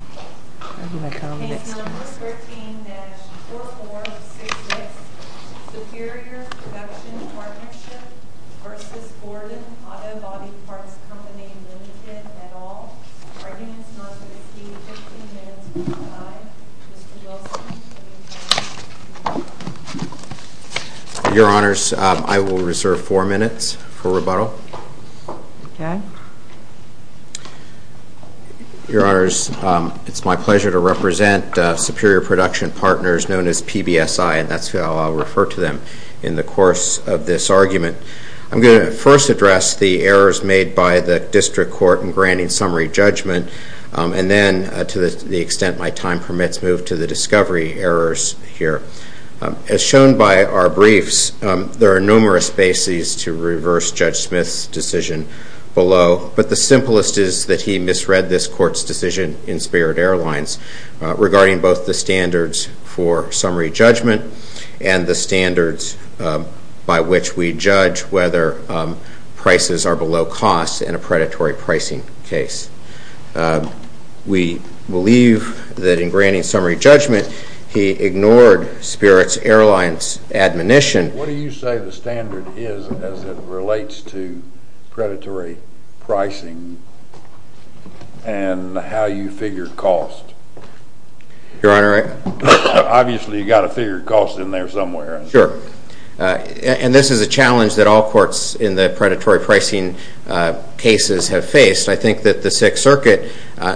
at all? Are you in service with a fee of $15.05? Mr. Wilson, will you please come forward? Your Honors, I will reserve four minutes for rebuttal. Your Honors, it's my pleasure to represent Superior Production Partners, known as PBSI, and that's how I'll refer to them in the course of this argument. I'm going to first address the errors made by the District Court in granting summary judgment, and then, to the extent my time permits, move to the discovery errors here. As shown by our briefs, there are numerous bases to reverse Judge Smith's decision below, but the simplest is that he misread this Court's decision in Spirit Airlines regarding both the standards for summary judgment and the standards by which we judge whether prices are below cost in a predatory pricing case. We believe that in granting summary judgment, he ignored Spirit Airlines' admonition. What do you say the standard is as it relates to predatory pricing and how you figure cost? Your Honor, I... Obviously, you've got to figure cost in there somewhere. Sure. And this is a challenge that all courts in the predatory pricing cases have faced. I think that the Sixth Circuit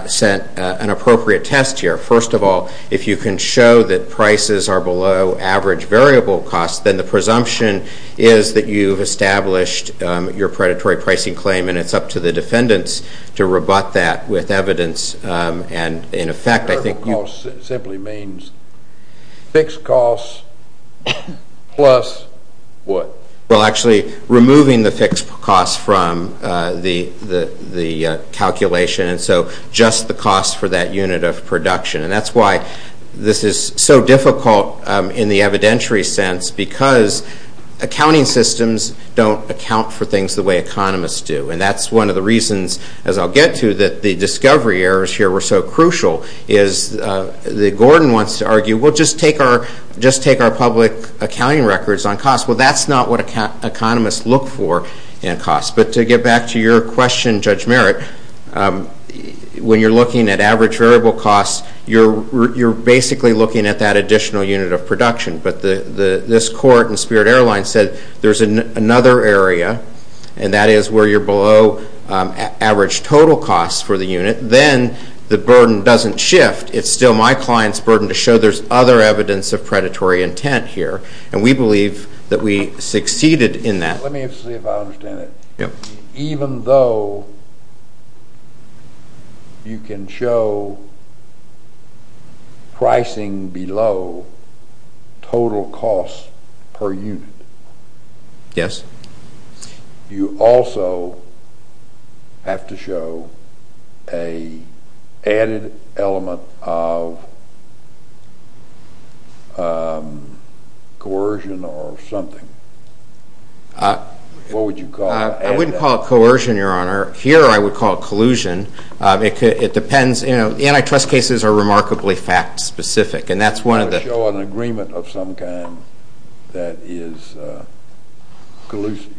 sent an appropriate test here. First of all, if you can show that prices are below average variable costs, then the presumption is that you've established your predatory pricing claim, and it's up to the defendants to rebut that with evidence. Variable costs simply means fixed costs plus what? Well, actually, removing the fixed costs from the calculation, and so just the cost for that unit of production. And that's why this is so difficult in the evidentiary sense because accounting systems don't account for things the way economists do. And that's one of the reasons, as I'll get to, that the discovery errors here were so crucial is that Gordon wants to argue, well, just take our public accounting records on cost. Well, that's not what economists look for in cost. But to get back to your question, Judge Merritt, when you're looking at average variable costs, you're basically looking at that additional unit of production. But this court in Spirit Airlines said there's another area, and that is where you're below average total costs for the unit. Then the burden doesn't shift. It's still my client's burden to show there's other evidence of predatory intent here, and we believe that we succeeded in that. Let me see if I understand it. Even though you can show pricing below total costs per unit, you also have to show an added element of coercion or something. What would you call it? I wouldn't call it coercion, Your Honor. Here I would call it collusion. It depends. You know, antitrust cases are remarkably fact-specific, and that's one of the… Show an agreement of some kind that is collusive.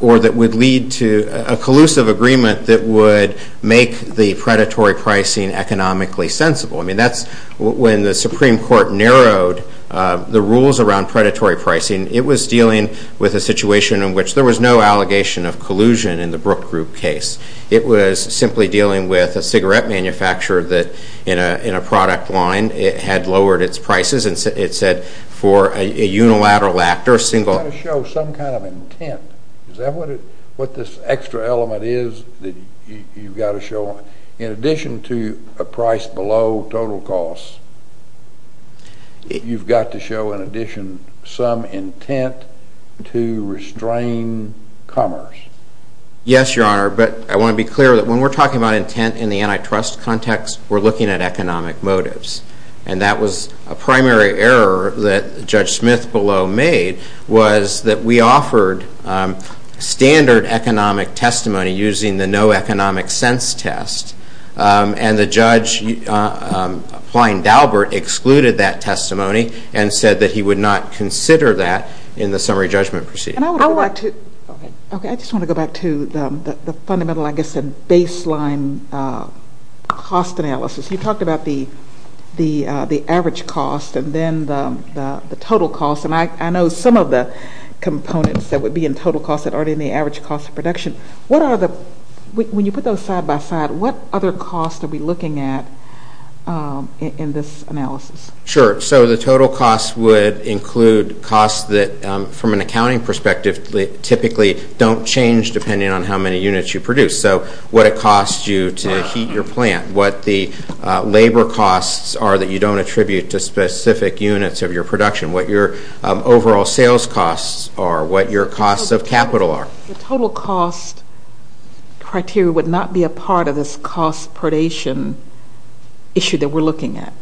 Or that would lead to a collusive agreement that would make the predatory pricing economically sensible. I mean, that's when the Supreme Court narrowed the rules around predatory pricing. It was dealing with a situation in which there was no allegation of collusion in the Brook Group case. It was simply dealing with a cigarette manufacturer that, in a product line, had lowered its prices. It said for a unilateral actor, a single… You've got to show some kind of intent. Is that what this extra element is that you've got to show? In addition to a price below total costs, you've got to show, in addition, some intent to restrain commerce. Yes, Your Honor, but I want to be clear that when we're talking about intent in the antitrust context, we're looking at economic motives. And that was a primary error that Judge Smith below made, was that we offered standard economic testimony using the no economic sense test. And the judge, applying Daubert, excluded that testimony and said that he would not consider that in the summary judgment proceeding. And I would like to… Okay. Okay, I just want to go back to the fundamental, I guess, baseline cost analysis. You talked about the average cost and then the total cost. And I know some of the components that would be in total cost that aren't in the average cost of production. What are the… When you put those side by side, what other costs are we looking at in this analysis? Sure. So the total costs would include costs that, from an accounting perspective, typically don't change depending on how many units you produce. So what it costs you to heat your plant, what the labor costs are that you don't attribute to specific units of your production, what your overall sales costs are, what your costs of capital are. The total cost criteria would not be a part of this cost predation issue that we're looking at.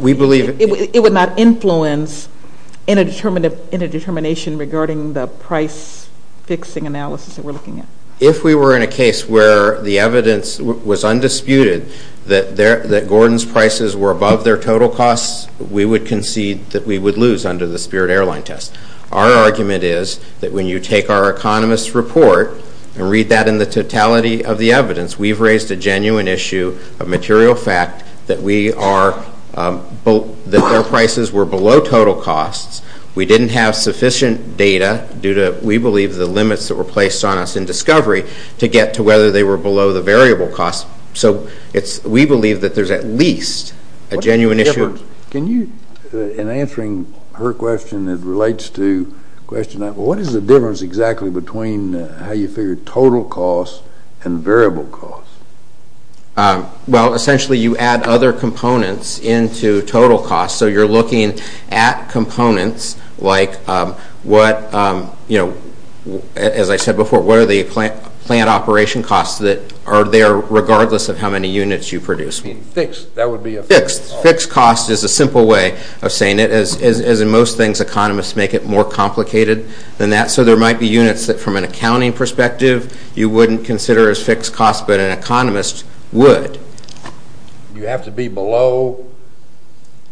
We believe… It would not influence in a determination regarding the price fixing analysis that we're looking at. If we were in a case where the evidence was undisputed that Gordon's prices were above their total costs, we would concede that we would lose under the Spirit Airline test. Our argument is that when you take our economist's report and read that in the totality of the evidence, we've raised a genuine issue of material fact that we are…that their prices were below total costs. We didn't have sufficient data due to, we believe, the limits that were placed on us in discovery to get to whether they were below the variable costs. So we believe that there's at least a genuine issue… Can you, in answering her question that relates to the question, what is the difference exactly between how you figure total costs and variable costs? Well, essentially, you add other components into total costs. So you're looking at components like what, as I said before, what are the plant operation costs that are there regardless of how many units you produce? Fixed, that would be a fixed cost. Fixed cost is a simple way of saying it. As in most things, economists make it more complicated than that. So there might be units that from an accounting perspective you wouldn't consider as fixed costs, but an economist would. You have to be below…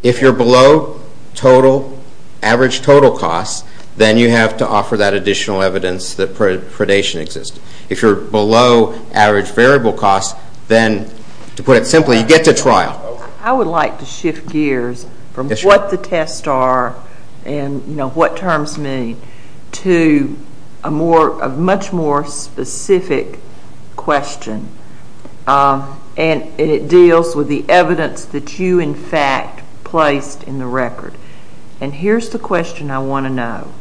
If you're below total, average total costs, then you have to offer that additional evidence that predation exists. If you're below average variable costs, then, to put it simply, you get to trial. I would like to shift gears from what the tests are and, you know, what terms mean to a much more specific question, and it deals with the evidence that you, in fact, placed in the record. And here's the question I want to know.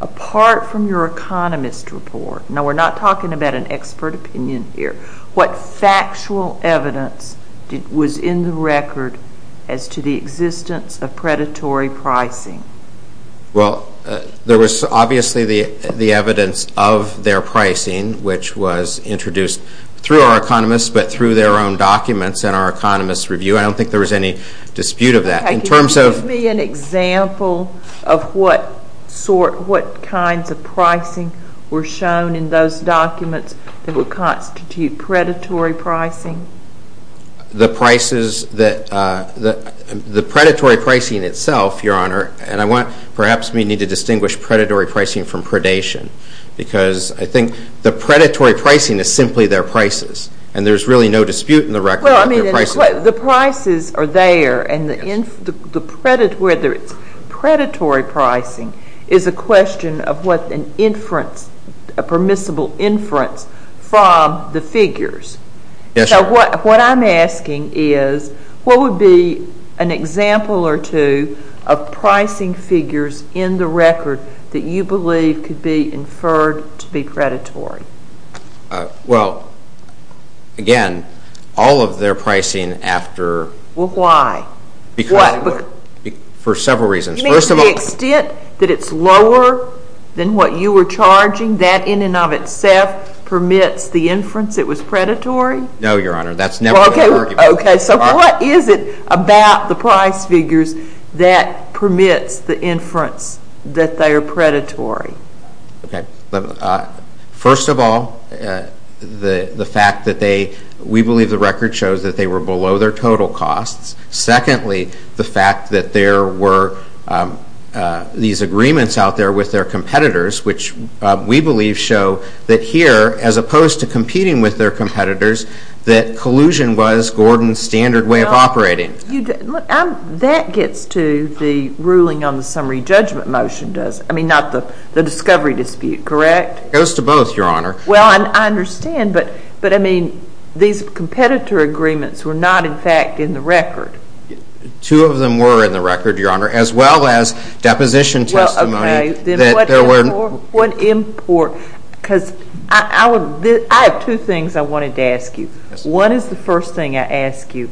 Apart from your economist report, now we're not talking about an expert opinion here, what factual evidence was in the record as to the existence of predatory pricing? Well, there was obviously the evidence of their pricing, which was introduced through our economists, but through their own documents in our economists' review. I don't think there was any dispute of that. Okay, can you give me an example of what kinds of pricing were shown in those documents that would constitute predatory pricing? The prices that the predatory pricing itself, Your Honor, and I want perhaps we need to distinguish predatory pricing from predation because I think the predatory pricing is simply their prices and there's really no dispute in the record that their prices are there. Well, I mean, the prices are there and the predatory pricing is a question of what an inference, a permissible inference from the figures. Yes, Your Honor. So what I'm asking is what would be an example or two of pricing figures in the record that you believe could be inferred to be predatory? Well, again, all of their pricing after... Well, why? Because... What? For several reasons. First of all... You mean to the extent that it's lower than what you were charging, that in and of itself permits the inference it was predatory? No, Your Honor, that's never the argument. Okay, so what is it about the price figures that permits the inference that they are predatory? Okay, first of all, the fact that they... We believe the record shows that they were below their total costs. Secondly, the fact that there were these agreements out there with their competitors, which we believe show that here, as opposed to competing with their competitors, that collusion was Gordon's standard way of operating. That gets to the ruling on the summary judgment motion, does it? I mean, not the discovery dispute, correct? It goes to both, Your Honor. Well, I understand, but, I mean, these competitor agreements were not, in fact, in the record. Two of them were in the record, Your Honor, as well as deposition testimony... Because I have two things I wanted to ask you. One is the first thing I ask you,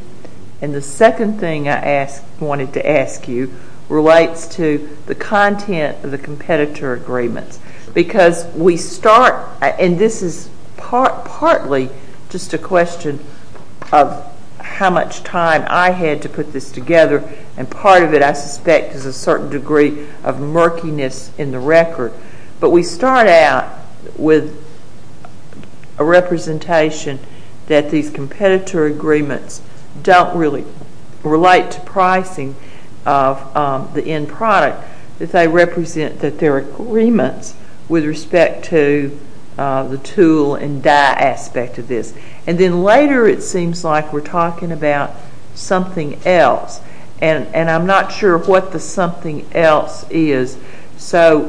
and the second thing I wanted to ask you relates to the content of the competitor agreements. Because we start, and this is partly just a question of how much time I had to put this together, and part of it, I suspect, is a certain degree of murkiness in the record. But we start out with a representation that these competitor agreements don't really relate to pricing of the end product, that they represent that there are agreements with respect to the tool and dye aspect of this. And then later it seems like we're talking about something else, and I'm not sure what the something else is. So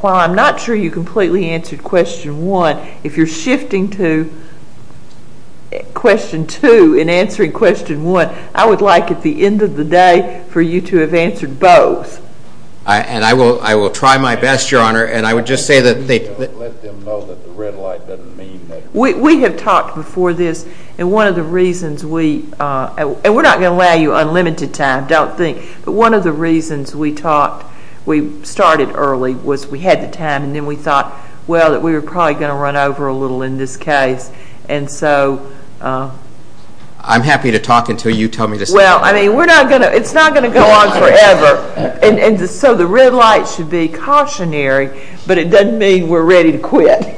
while I'm not sure you completely answered question one, if you're shifting to question two and answering question one, I would like at the end of the day for you to have answered both. And I will try my best, Your Honor, and I would just say that... Let them know that the red light doesn't mean that... We have talked before this, and one of the reasons we, and we're not going to allow you unlimited time, don't think, but one of the reasons we started early was we had the time, and then we thought, well, that we were probably going to run over a little in this case. And so... I'm happy to talk until you tell me to stop. Well, I mean, we're not going to, it's not going to go on forever. So the red light should be cautionary, but it doesn't mean we're ready to quit.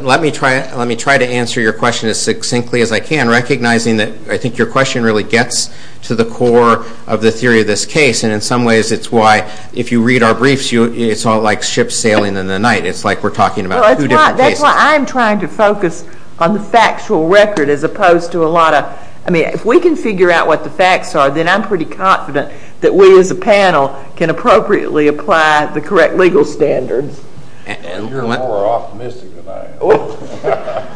Let me try to answer your question as succinctly as I can, recognizing that I think your question really gets to the core of the theory of this case, and in some ways it's why, if you read our briefs, it's all like ships sailing in the night. It's like we're talking about two different cases. That's why I'm trying to focus on the factual record as opposed to a lot of... I mean, if we can figure out what the facts are, then I'm pretty confident that we as a panel can appropriately apply the correct legal standards. You're more optimistic than I am.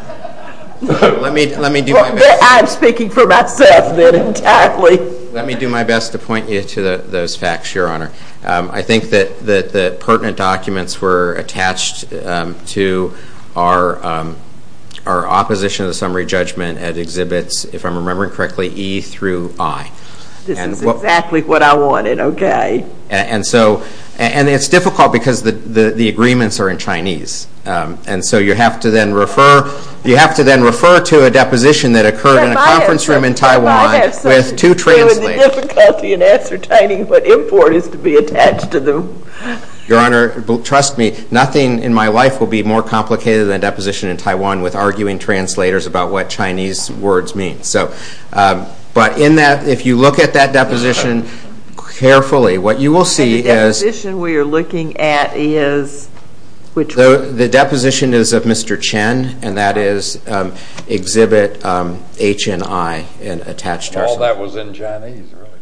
Let me do my best. I'm speaking for myself then entirely. Let me do my best to point you to those facts, Your Honor. I think that the pertinent documents were attached to our opposition to the summary judgment that exhibits, if I'm remembering correctly, E through I. This is exactly what I wanted, okay. And it's difficult because the agreements are in Chinese, and so you have to then refer to a deposition that occurred in a conference room in Taiwan with two translators. I have some difficulty in ascertaining what import is to be attached to them. Your Honor, trust me, nothing in my life will be more complicated than a deposition in Taiwan with arguing translators about what Chinese words mean. But if you look at that deposition carefully, what you will see is... The deposition we are looking at is which one? The deposition is of Mr. Chen, and that is exhibit H and I attached to our summary. All that was in Chinese, really?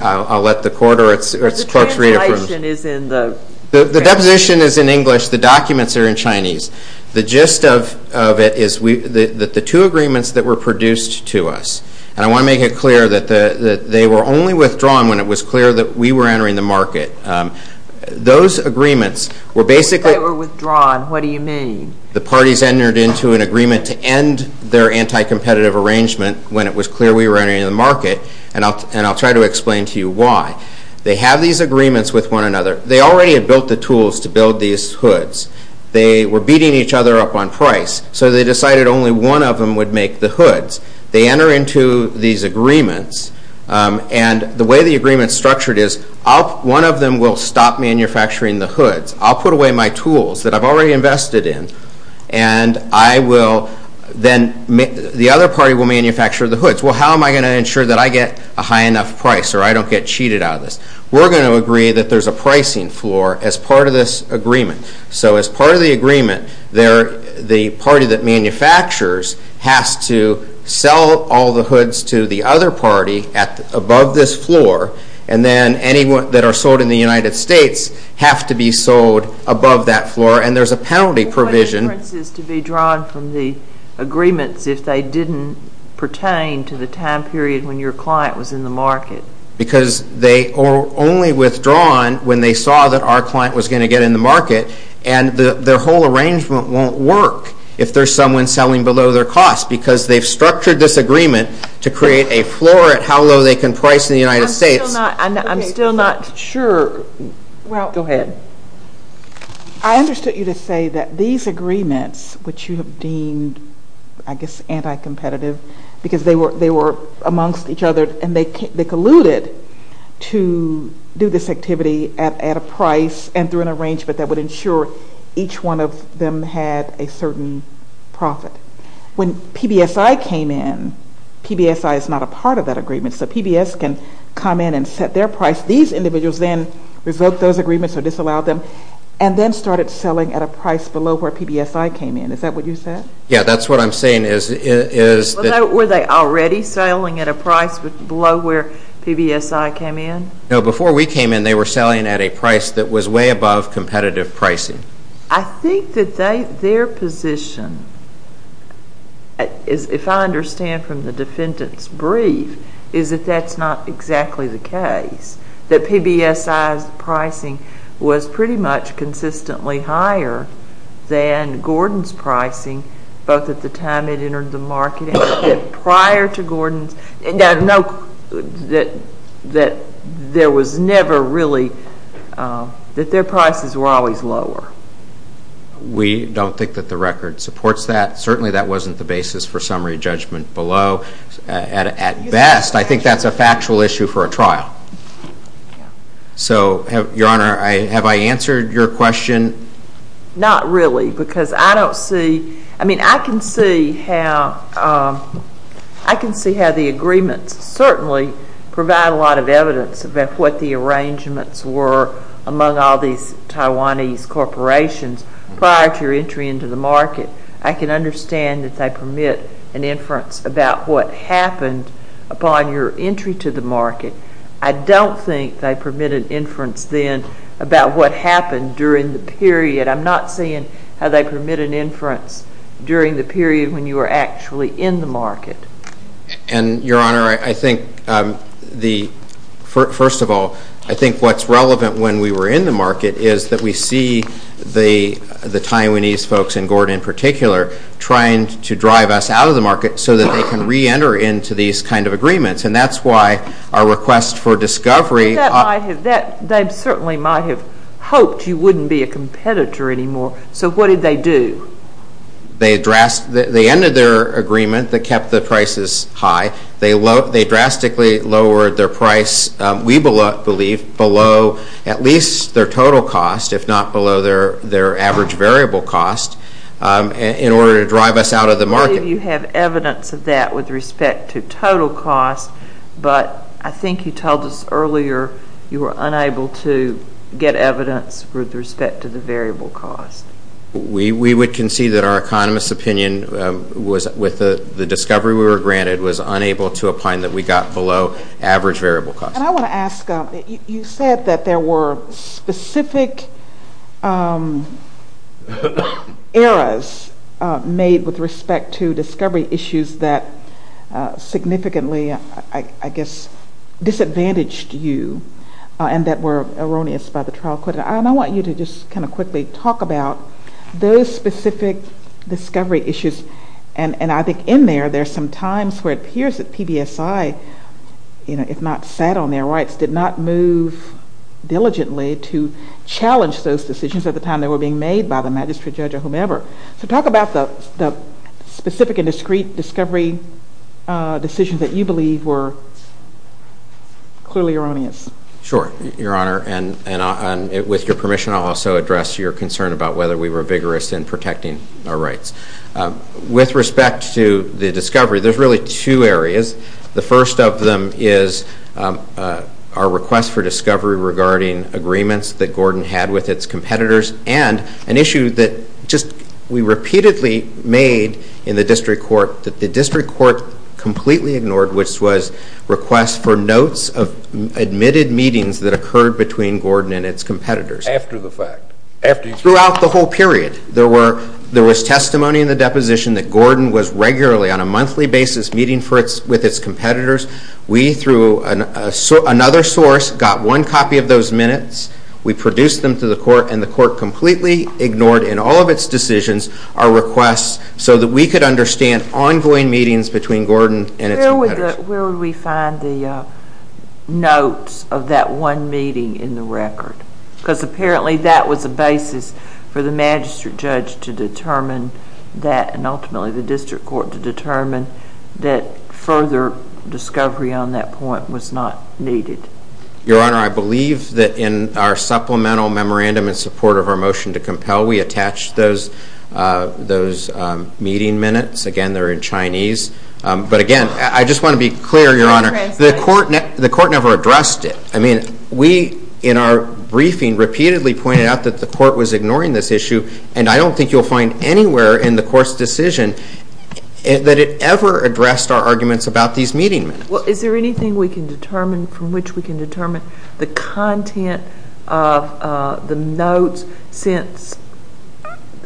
I'll let the court or its clerks re-approve. The translation is in the... The gist of it is that the two agreements that were produced to us, and I want to make it clear that they were only withdrawn when it was clear that we were entering the market. Those agreements were basically... They were withdrawn. What do you mean? The parties entered into an agreement to end their anti-competitive arrangement when it was clear we were entering the market, and I'll try to explain to you why. They have these agreements with one another. They already had built the tools to build these hoods. They were beating each other up on price, so they decided only one of them would make the hoods. They enter into these agreements, and the way the agreement is structured is one of them will stop manufacturing the hoods. I'll put away my tools that I've already invested in, and I will then... The other party will manufacture the hoods. Well, how am I going to ensure that I get a high enough price or I don't get cheated out of this? We're going to agree that there's a pricing floor as part of this agreement. So as part of the agreement, the party that manufactures has to sell all the hoods to the other party above this floor, and then any that are sold in the United States have to be sold above that floor, and there's a penalty provision. What difference is to be drawn from the agreements if they didn't pertain to the time period when your client was in the market? Because they are only withdrawn when they saw that our client was going to get in the market, and their whole arrangement won't work if there's someone selling below their cost because they've structured this agreement to create a floor at how low they can price in the United States. I'm still not sure. Go ahead. I understood you to say that these agreements, which you have deemed, I guess, anti-competitive, because they were amongst each other and they colluded to do this activity at a price and through an arrangement that would ensure each one of them had a certain profit. When PBSI came in, PBSI is not a part of that agreement, so PBS can come in and set their price. These individuals then revoked those agreements or disallowed them and then started selling at a price below where PBSI came in. Is that what you said? Yes, that's what I'm saying. Were they already selling at a price below where PBSI came in? No, before we came in, they were selling at a price that was way above competitive pricing. I think that their position, if I understand from the defendant's brief, is that that's not exactly the case, that PBSI's pricing was pretty much consistently higher than Gordon's pricing, both at the time it entered the market and prior to Gordon's, and that there was never really, that their prices were always lower. We don't think that the record supports that. Certainly, that wasn't the basis for summary judgment below. At best, I think that's a factual issue for a trial. So, Your Honor, have I answered your question? Not really, because I don't see, I mean, I can see how the agreements certainly provide a lot of evidence about what the arrangements were among all these Taiwanese corporations prior to your entry into the market. I can understand that they permit an inference about what happened upon your entry to the market. I don't think they permit an inference then about what happened during the period. I'm not seeing how they permit an inference during the period when you were actually in the market. And, Your Honor, I think the, first of all, I think what's relevant when we were in the market is that we see the Taiwanese folks, and Gordon in particular, trying to drive us out of the market so that they can reenter into these kind of agreements. And that's why our request for discovery. They certainly might have hoped you wouldn't be a competitor anymore. So, what did they do? They addressed, they ended their agreement that kept the prices high. They drastically lowered their price, we believe, below at least their total cost, if not below their average variable cost, in order to drive us out of the market. I believe you have evidence of that with respect to total cost, but I think you told us earlier you were unable to get evidence with respect to the variable cost. We would concede that our economist's opinion was, with the discovery we were granted, was unable to opine that we got below average variable cost. And I want to ask, you said that there were specific errors made with respect to discovery issues that significantly, I guess, disadvantaged you and that were erroneous by the trial. And I want you to just kind of quickly talk about those specific discovery issues. And I think in there, there are some times where it appears that PBSI, if not sat on their rights, did not move diligently to challenge those decisions at the time they were being made by the magistrate judge or whomever. So talk about the specific and discreet discovery decisions that you believe were clearly erroneous. Sure, Your Honor, and with your permission, I'll also address your concern about whether we were vigorous in protecting our rights. With respect to the discovery, there's really two areas. The first of them is our request for discovery regarding agreements that Gordon had with its competitors and an issue that just we repeatedly made in the district court that the district court completely ignored, which was requests for notes of admitted meetings that occurred between Gordon and its competitors. After the fact. Throughout the whole period, there was testimony in the deposition that Gordon was regularly, on a monthly basis, meeting with its competitors. We, through another source, got one copy of those minutes. We produced them to the court, and the court completely ignored, in all of its decisions, our requests so that we could understand ongoing meetings between Gordon and its competitors. Where would we find the notes of that one meeting in the record? Because apparently that was the basis for the magistrate judge to determine that, and ultimately the district court to determine that further discovery on that point was not needed. Your Honor, I believe that in our supplemental memorandum in support of our motion to compel, we attached those meeting minutes. Again, they're in Chinese. But, again, I just want to be clear, Your Honor, the court never addressed it. I mean, we, in our briefing, repeatedly pointed out that the court was ignoring this issue, and I don't think you'll find anywhere in the court's decision that it ever addressed our arguments about these meeting minutes. Well, is there anything we can determine from which we can determine the content of the notes since,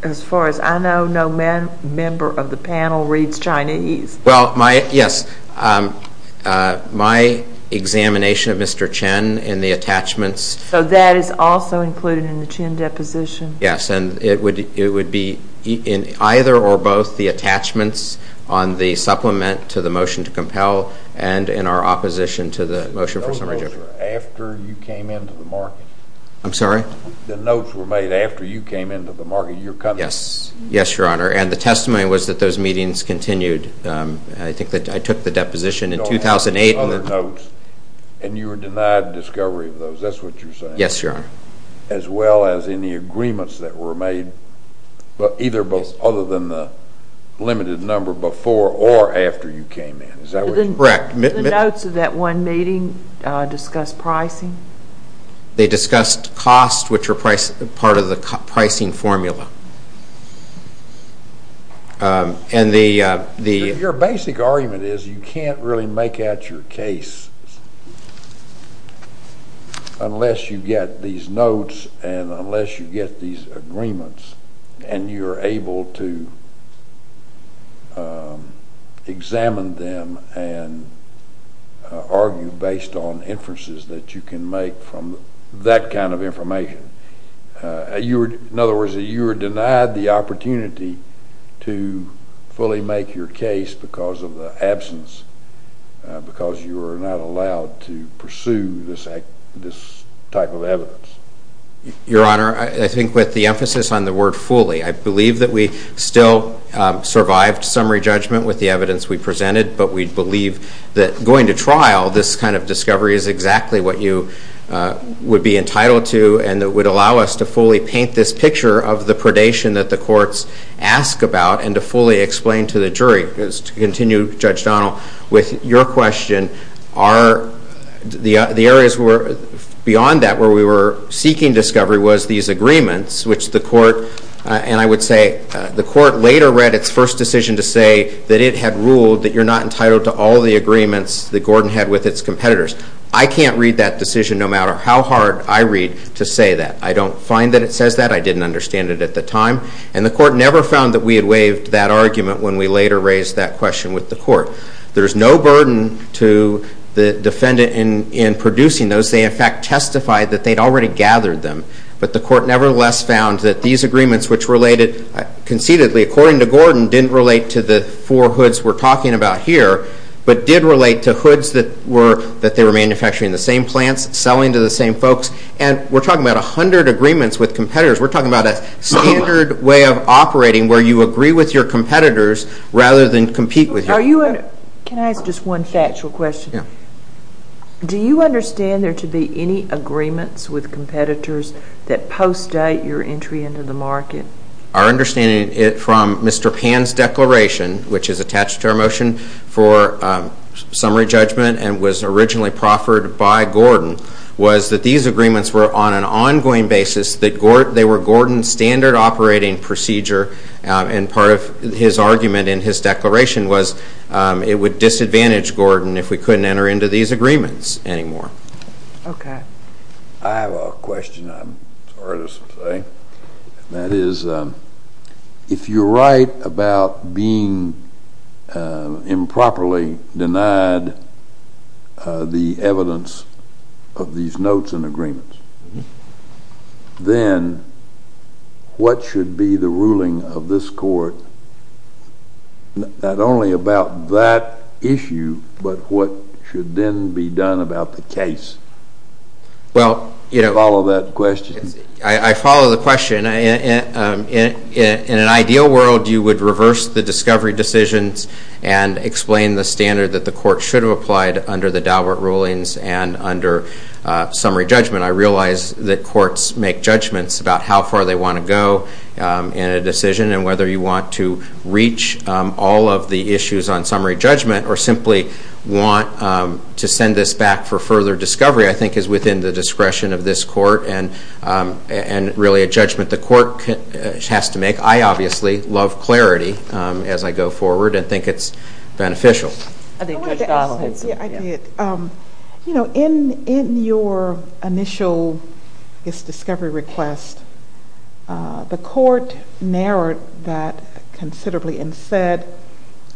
as far as I know, no member of the panel reads Chinese? Well, yes. My examination of Mr. Chen and the attachments. So that is also included in the Chen deposition? Yes, and it would be in either or both the attachments on the supplement to the motion to compel and in our opposition to the motion for summary judgment. The notes were made after you came into the market? I'm sorry? The notes were made after you came into the market, your company? Yes, Your Honor, and the testimony was that those meetings continued. I think that I took the deposition in 2008. And you were denied discovery of those? That's what you're saying? Yes, Your Honor. As well as any agreements that were made, either other than the limited number before or after you came in? Is that what you're saying? Correct. The notes of that one meeting discussed pricing? They discussed cost, which were part of the pricing formula. Your basic argument is you can't really make out your case unless you get these notes and unless you get these agreements and you're able to examine them and argue based on inferences that you can make from that kind of information. In other words, you were denied the opportunity to fully make your case because of the absence, because you were not allowed to pursue this type of evidence. Your Honor, I think with the emphasis on the word fully, I believe that we still survived summary judgment with the evidence we presented, but we believe that going to trial, this kind of discovery is exactly what you would be entitled to and it would allow us to fully paint this picture of the predation that the courts ask about and to fully explain to the jury. To continue, Judge Donnell, with your question, the areas beyond that where we were seeking discovery was these agreements, which the court, and I would say the court later read its first decision to say that it had ruled that you're not entitled to all the agreements that Gordon had with its competitors. I can't read that decision no matter how hard I read to say that. I don't find that it says that. I didn't understand it at the time. And the court never found that we had waived that argument when we later raised that question with the court. There's no burden to the defendant in producing those. They, in fact, testified that they'd already gathered them, but the court nevertheless found that these agreements, which related conceitedly, according to Gordon, didn't relate to the four hoods we're talking about here, but did relate to hoods that they were manufacturing in the same plants, selling to the same folks. And we're talking about 100 agreements with competitors. We're talking about a standard way of operating where you agree with your competitors rather than compete with them. Can I ask just one factual question? Yeah. Do you understand there to be any agreements with competitors that post-date your entry into the market? Our understanding from Mr. Pan's declaration, which is attached to our motion for summary judgment and was originally proffered by Gordon, was that these agreements were on an ongoing basis. They were Gordon's standard operating procedure, and part of his argument in his declaration was it would disadvantage Gordon if we couldn't enter into these agreements anymore. Okay. I have a question I'm sorry to say. That is, if you're right about being improperly denied the evidence of these notes and agreements, then what should be the ruling of this court not only about that issue, but what should then be done about the case? Well, you know. Follow that question? I follow the question. In an ideal world, you would reverse the discovery decisions and explain the standard that the court should have applied under the Daubert rulings and under summary judgment. I realize that courts make judgments about how far they want to go in a decision and whether you want to reach all of the issues on summary judgment or simply want to send this back for further discovery I think is within the discretion of this court and really a judgment the court has to make. I obviously love clarity as I go forward and think it's beneficial. I wanted to add something. Yeah, I did. You know, in your initial discovery request, the court narrowed that considerably and said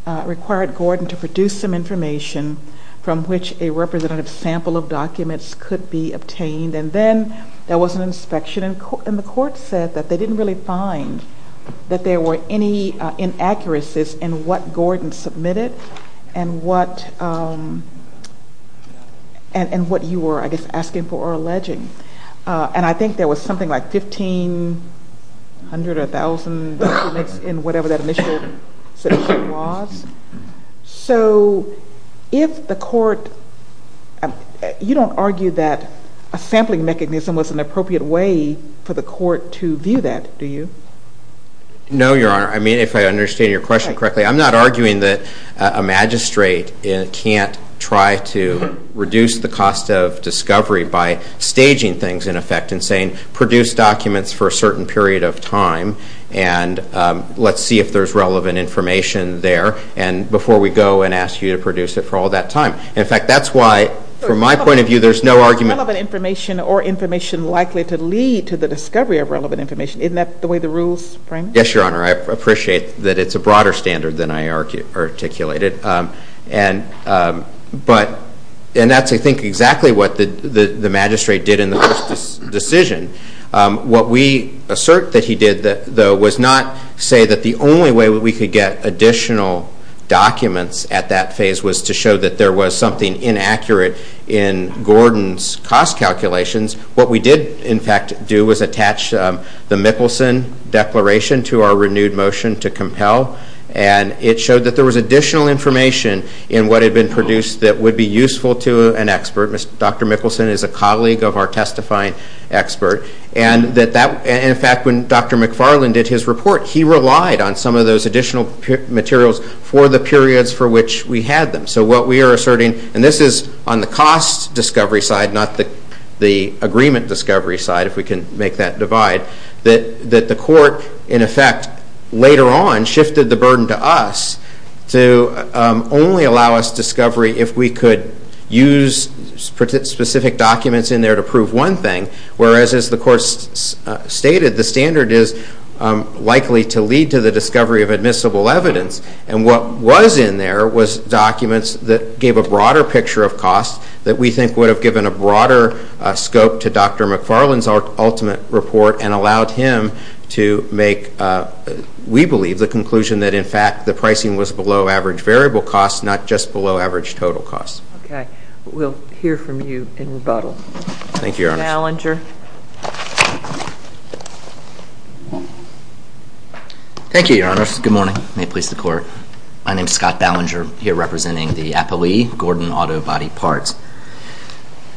it required Gordon to produce some information from which a representative sample of documents could be obtained, and then there was an inspection, and the court said that they didn't really find that there were any inaccuracies in what Gordon submitted and what you were, I guess, asking for or alleging. And I think there was something like 1,500 or 1,000 documents in whatever that initial submission was. So if the court, you don't argue that a sampling mechanism was an appropriate way for the court to view that, do you? No, Your Honor. I mean, if I understand your question correctly, I'm not arguing that a magistrate can't try to reduce the cost of discovery by staging things, in effect, and saying produce documents for a certain period of time and let's see if there's relevant information there before we go and ask you to produce it for all that time. In fact, that's why, from my point of view, there's no argument. Is relevant information or information likely to lead to the discovery of relevant information? Isn't that the way the rules frame it? Yes, Your Honor. I appreciate that it's a broader standard than I articulated. And that's, I think, exactly what the magistrate did in the first decision. What we assert that he did, though, was not say that the only way we could get additional documents at that phase was to show that there was something inaccurate in Gordon's cost calculations. What we did, in fact, do was attach the Mickelson Declaration to our renewed motion to compel. And it showed that there was additional information in what had been produced that would be useful to an expert. Dr. Mickelson is a colleague of our testifying expert. And, in fact, when Dr. McFarland did his report, he relied on some of those additional materials for the periods for which we had them. So what we are asserting, and this is on the cost discovery side, not the agreement discovery side, if we can make that divide, that the court, in effect, later on shifted the burden to us to only allow us discovery if we could use specific documents in there to prove one thing. Whereas, as the court stated, the standard is likely to lead to the discovery of admissible evidence. And what was in there was documents that gave a broader picture of cost that we think would have given a broader scope to Dr. McFarland's ultimate report and allowed him to make, we believe, the conclusion that, in fact, the pricing was below average variable costs, not just below average total costs. Okay. We'll hear from you in rebuttal. Thank you, Your Honor. Gallinger. Thank you, Your Honor. Good morning. May it please the Court. My name is Scott Ballinger. I'm here representing the Appellee Gordon Auto Body Parts.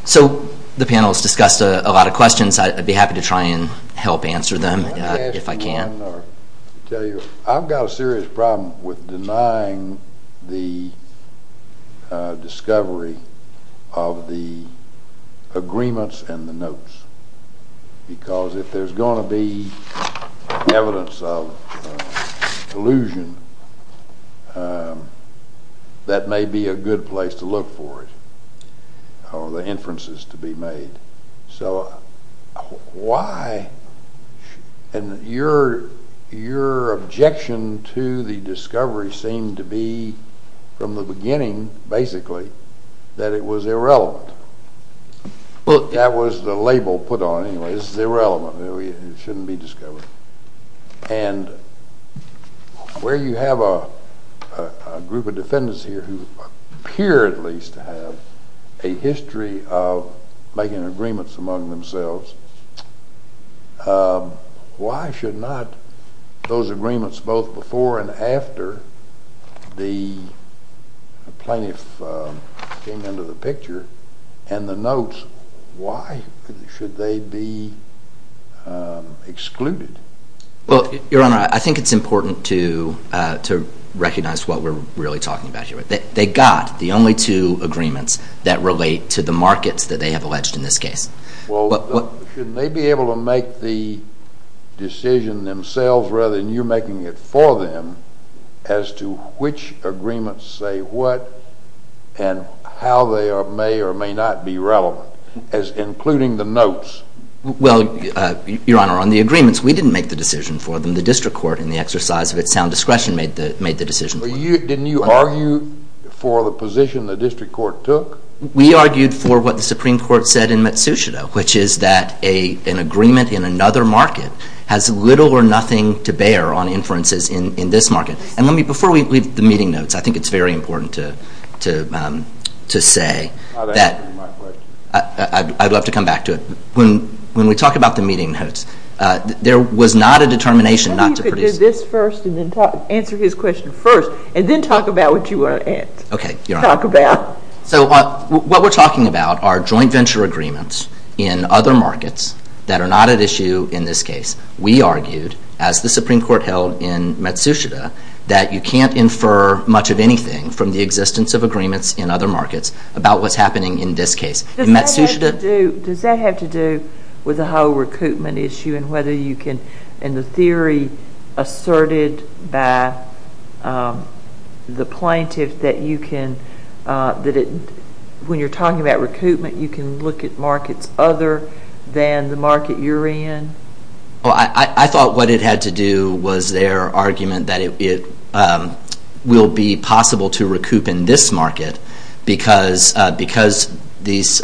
So the panel has discussed a lot of questions. I'd be happy to try and help answer them if I can. Let me ask one or tell you. I've got a serious problem with denying the discovery of the agreements and the notes because if there's going to be evidence of collusion, that may be a good place to look for it or the inferences to be made. So why? And your objection to the discovery seemed to be from the beginning, basically, that it was irrelevant. That was the label put on it. This is irrelevant. It shouldn't be discovered. And where you have a group of defendants here who appear at least to have a history of making agreements among themselves, why should not those agreements both before and after the plaintiff came into the picture and the notes, why should they be excluded? Well, Your Honor, I think it's important to recognize what we're really talking about here. They got the only two agreements that relate to the markets that they have alleged in this case. Well, shouldn't they be able to make the decision themselves rather than you making it for them as to which agreements say what and how they may or may not be relevant, including the notes? Well, Your Honor, on the agreements, we didn't make the decision for them. The district court, in the exercise of its sound discretion, made the decision for them. Didn't you argue for the position the district court took? We argued for what the Supreme Court said in Matsushita, which is that an agreement in another market has little or nothing to bear on inferences in this market. And before we leave the meeting notes, I think it's very important to say that I'd love to come back to it. When we talk about the meeting notes, there was not a determination not to produce them. Maybe you could do this first and then answer his question first and then talk about what you want to talk about. So what we're talking about are joint venture agreements in other markets that are not at issue in this case. We argued, as the Supreme Court held in Matsushita, that you can't infer much of anything from the existence of agreements in other markets about what's happening in this case. Does that have to do with the whole recoupment issue and the theory asserted by the plaintiff that when you're talking about recoupment, you can look at markets other than the market you're in? I thought what it had to do was their argument that it will be possible to recoup in this market because these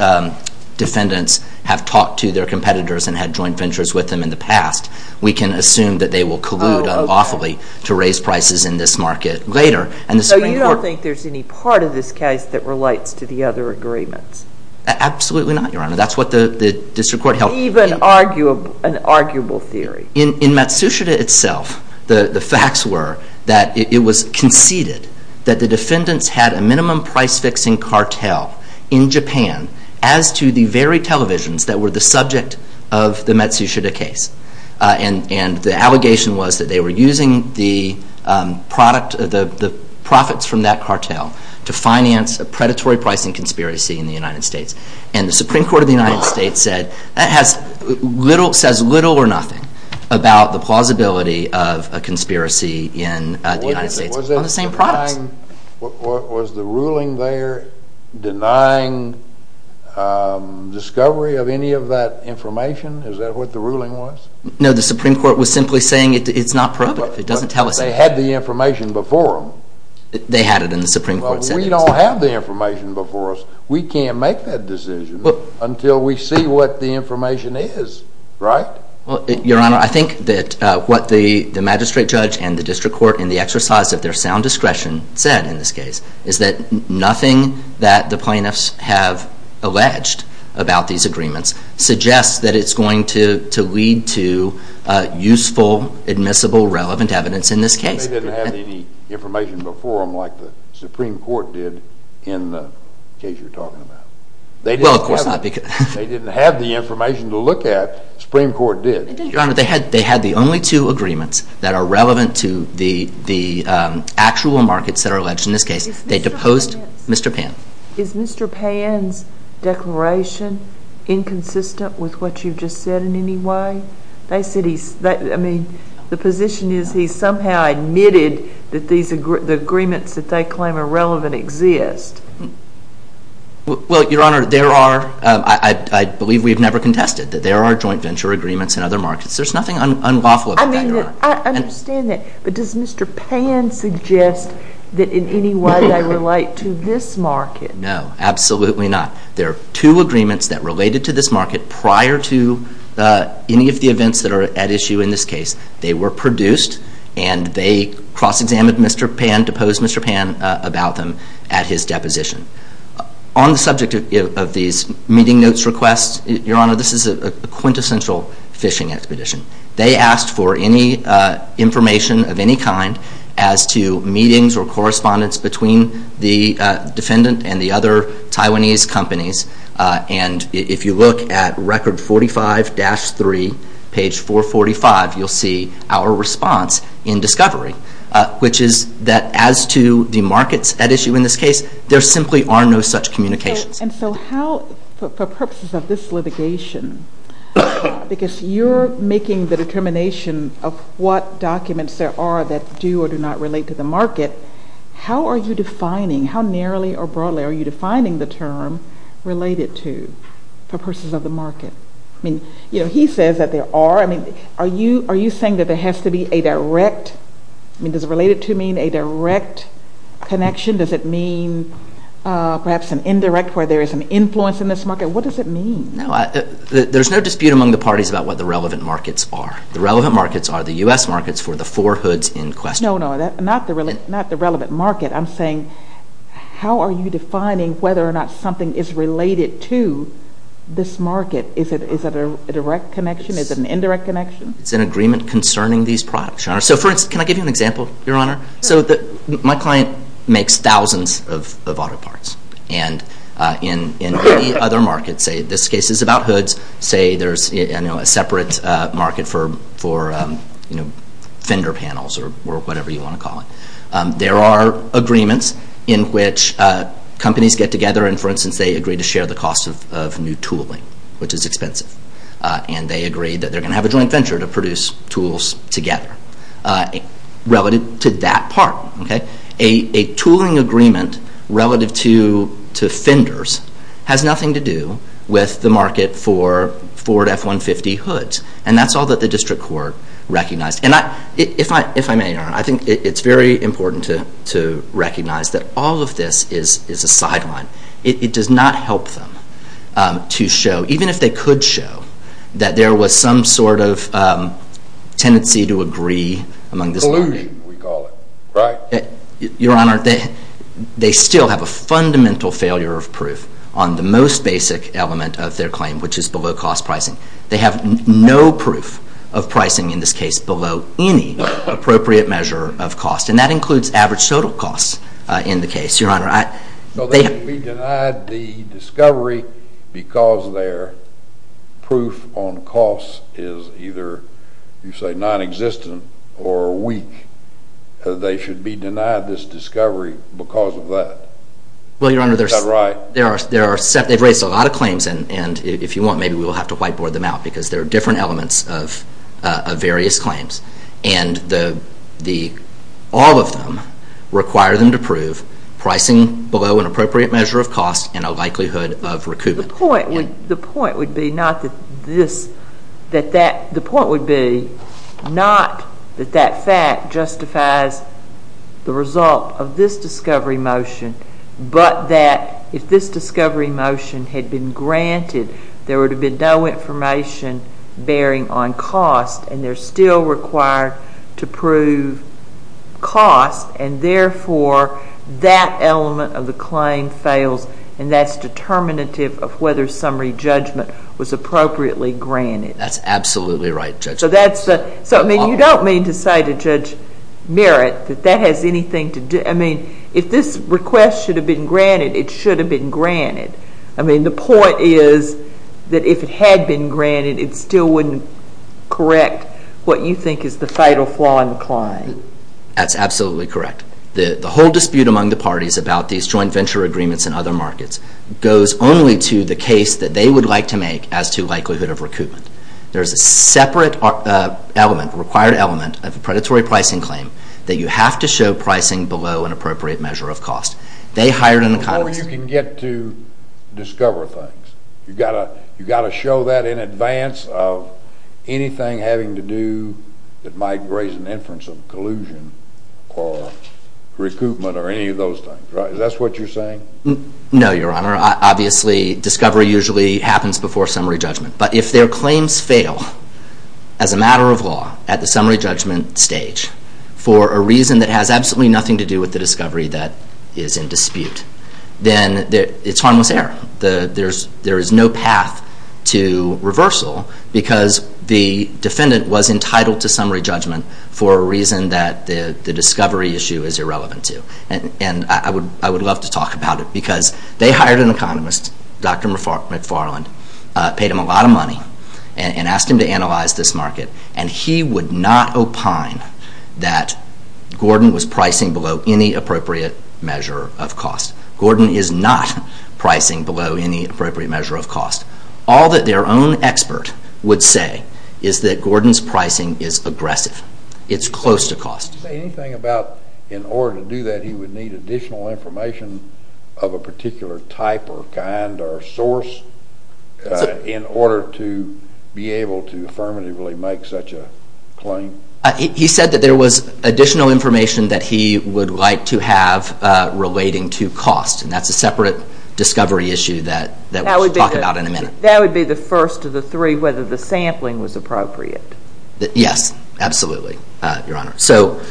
defendants have talked to their competitors and had joint ventures with them in the past. We can assume that they will collude unlawfully to raise prices in this market later. So you don't think there's any part of this case that relates to the other agreements? Absolutely not, Your Honor. That's what the district court held. Even an arguable theory? In Matsushita itself, the facts were that it was conceded that the defendants had a minimum price-fixing cartel in Japan as to the very televisions that were the subject of the Matsushita case. And the allegation was that they were using the profits from that cartel to finance a predatory pricing conspiracy in the United States. And the Supreme Court of the United States said that says little or nothing about the plausibility of a conspiracy in the United States on the same products. Was the ruling there denying discovery of any of that information? Is that what the ruling was? No, the Supreme Court was simply saying it's not probative. It doesn't tell us anything. But they had the information before them. They had it in the Supreme Court sentence. But we don't have the information before us. We can't make that decision until we see what the information is, right? Your Honor, I think that what the magistrate judge and the district court in the exercise of their sound discretion said in this case is that nothing that the plaintiffs have alleged about these agreements suggests that it's going to lead to useful, admissible, relevant evidence in this case. They didn't have any information before them like the Supreme Court did in the case you're talking about. Well, of course not. They didn't have the information to look at. The Supreme Court did. Your Honor, they had the only two agreements that are relevant to the actual markets that are alleged in this case. They deposed Mr. Pan. Is Mr. Pan's declaration inconsistent with what you've just said in any way? I mean, the position is he somehow admitted that the agreements that they claim are relevant exist. Well, Your Honor, I believe we've never contested that there are joint venture agreements in other markets. There's nothing unlawful about that, Your Honor. I understand that. But does Mr. Pan suggest that in any way they relate to this market? No, absolutely not. There are two agreements that related to this market prior to any of the events that are at issue in this case. They were produced and they cross-examined Mr. Pan, deposed Mr. Pan about them at his deposition. On the subject of these meeting notes requests, Your Honor, this is a quintessential phishing expedition. They asked for any information of any kind as to meetings or correspondence between the defendant and the other Taiwanese companies. And if you look at Record 45-3, page 445, you'll see our response in discovery, which is that as to the markets at issue in this case, there simply are no such communications. And so how, for purposes of this litigation, because you're making the determination of what documents there are that do or do not relate to the market, how are you defining, how narrowly or broadly are you defining the term related to, for purposes of the market? I mean, you know, he says that there are. I mean, are you saying that there has to be a direct, I mean, does related to mean a direct connection? Does it mean perhaps an indirect where there is an influence in this market? What does it mean? No, there's no dispute among the parties about what the relevant markets are. The relevant markets are the U.S. markets for the four hoods in question. No, no, not the relevant market. I'm saying how are you defining whether or not something is related to this market? Is it a direct connection? Is it an indirect connection? It's an agreement concerning these products, Your Honor. So for instance, can I give you an example, Your Honor? So my client makes thousands of auto parts. And in any other market, say this case is about hoods, say there's a separate market for, you know, fender panels or whatever you want to call it. There are agreements in which companies get together and, for instance, they agree to share the cost of new tooling, which is expensive. And they agree that they're going to have a joint venture to produce tools together. Relative to that part. A tooling agreement relative to fenders has nothing to do with the market for Ford F-150 hoods. And that's all that the district court recognized. And if I may, Your Honor, I think it's very important to recognize that all of this is a sideline. It does not help them to show, even if they could show, that there was some sort of tendency to agree among this market. Collusion, we call it, right? Your Honor, they still have a fundamental failure of proof on the most basic element of their claim, which is below-cost pricing. They have no proof of pricing in this case below any appropriate measure of cost. And that includes average total costs in the case, Your Honor. So they should be denied the discovery because their proof on costs is either, you say, non-existent or weak. They should be denied this discovery because of that. Well, Your Honor, they've raised a lot of claims. And if you want, maybe we'll have to whiteboard them out because there are different elements of various claims. And all of them require them to prove pricing below an appropriate measure of cost and a likelihood of recoupment. The point would be not that that fact justifies the result of this discovery motion but that if this discovery motion had been granted, there would have been no information bearing on cost. And they're still required to prove cost. And, therefore, that element of the claim fails. And that's determinative of whether summary judgment was appropriately granted. That's absolutely right, Judge. So that's the—so, I mean, you don't mean to say to Judge Merritt that that has anything to do— I mean, if this request should have been granted, it should have been granted. I mean, the point is that if it had been granted, it still wouldn't correct what you think is the fatal flaw in the claim. That's absolutely correct. The whole dispute among the parties about these joint venture agreements and other markets goes only to the case that they would like to make as to likelihood of recoupment. There is a separate element, required element, of a predatory pricing claim that you have to show pricing below an appropriate measure of cost. They hired an economist— Before you can get to discover things, you've got to show that in advance of anything having to do that might raise an inference of collusion or recoupment or any of those things, right? Is that what you're saying? No, Your Honor. Obviously, discovery usually happens before summary judgment. But if their claims fail as a matter of law at the summary judgment stage for a reason that has absolutely nothing to do with the discovery that is in dispute, then it's harmless error. There is no path to reversal because the defendant was entitled to summary judgment for a reason that the discovery issue is irrelevant to. And I would love to talk about it because they hired an economist, Dr. McFarland, paid him a lot of money, and asked him to analyze this market, and he would not opine that Gordon was pricing below any appropriate measure of cost. Gordon is not pricing below any appropriate measure of cost. All that their own expert would say is that Gordon's pricing is aggressive. It's close to cost. Did he say anything about in order to do that he would need additional information of a particular type or kind or source in order to be able to affirmatively make such a claim? He said that there was additional information that he would like to have relating to cost, and that's a separate discovery issue that we'll talk about in a minute. That would be the first of the three, whether the sampling was appropriate. Yes, absolutely, Your Honor. So,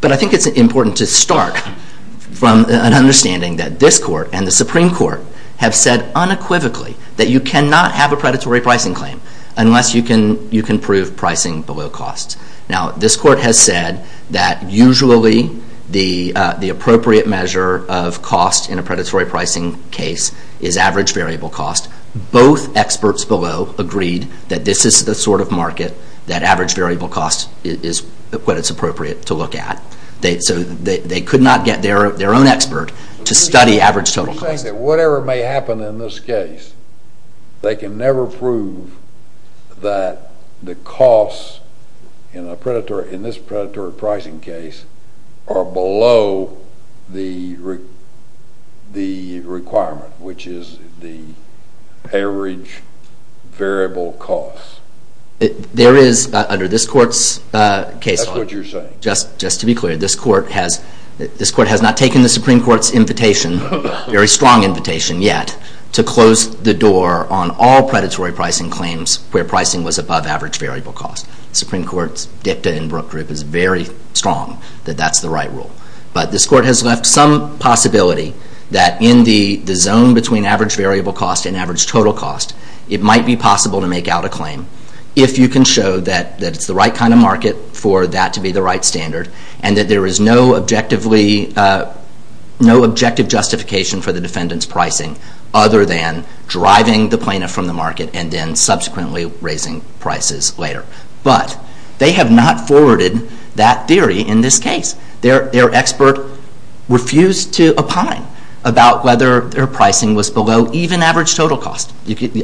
but I think it's important to start from an understanding that this Court and the Supreme Court have said unequivocally that you cannot have a predatory pricing claim unless you can prove pricing below cost. Now, this Court has said that usually the appropriate measure of cost in a predatory pricing case is average variable cost. Both experts below agreed that this is the sort of market that average variable cost is what it's appropriate to look at. So they could not get their own expert to study average total cost. You're saying that whatever may happen in this case, they can never prove that the costs in this predatory pricing case are below the requirement, which is the average variable cost. There is, under this Court's case law, just to be clear, this Court has not taken the Supreme Court's invitation, very strong invitation yet, to close the door on all predatory pricing claims where pricing was above average variable cost. The Supreme Court's dicta in Brooke Group is very strong that that's the right rule. But this Court has left some possibility that in the zone between average variable cost and average total cost, it might be possible to make out a claim if you can show that it's the right kind of market for that to be the right standard and that there is no objective justification for the defendant's pricing other than driving the plaintiff from the market and then subsequently raising prices later. But they have not forwarded that theory in this case. Their expert refused to opine about whether their pricing was below even average total cost.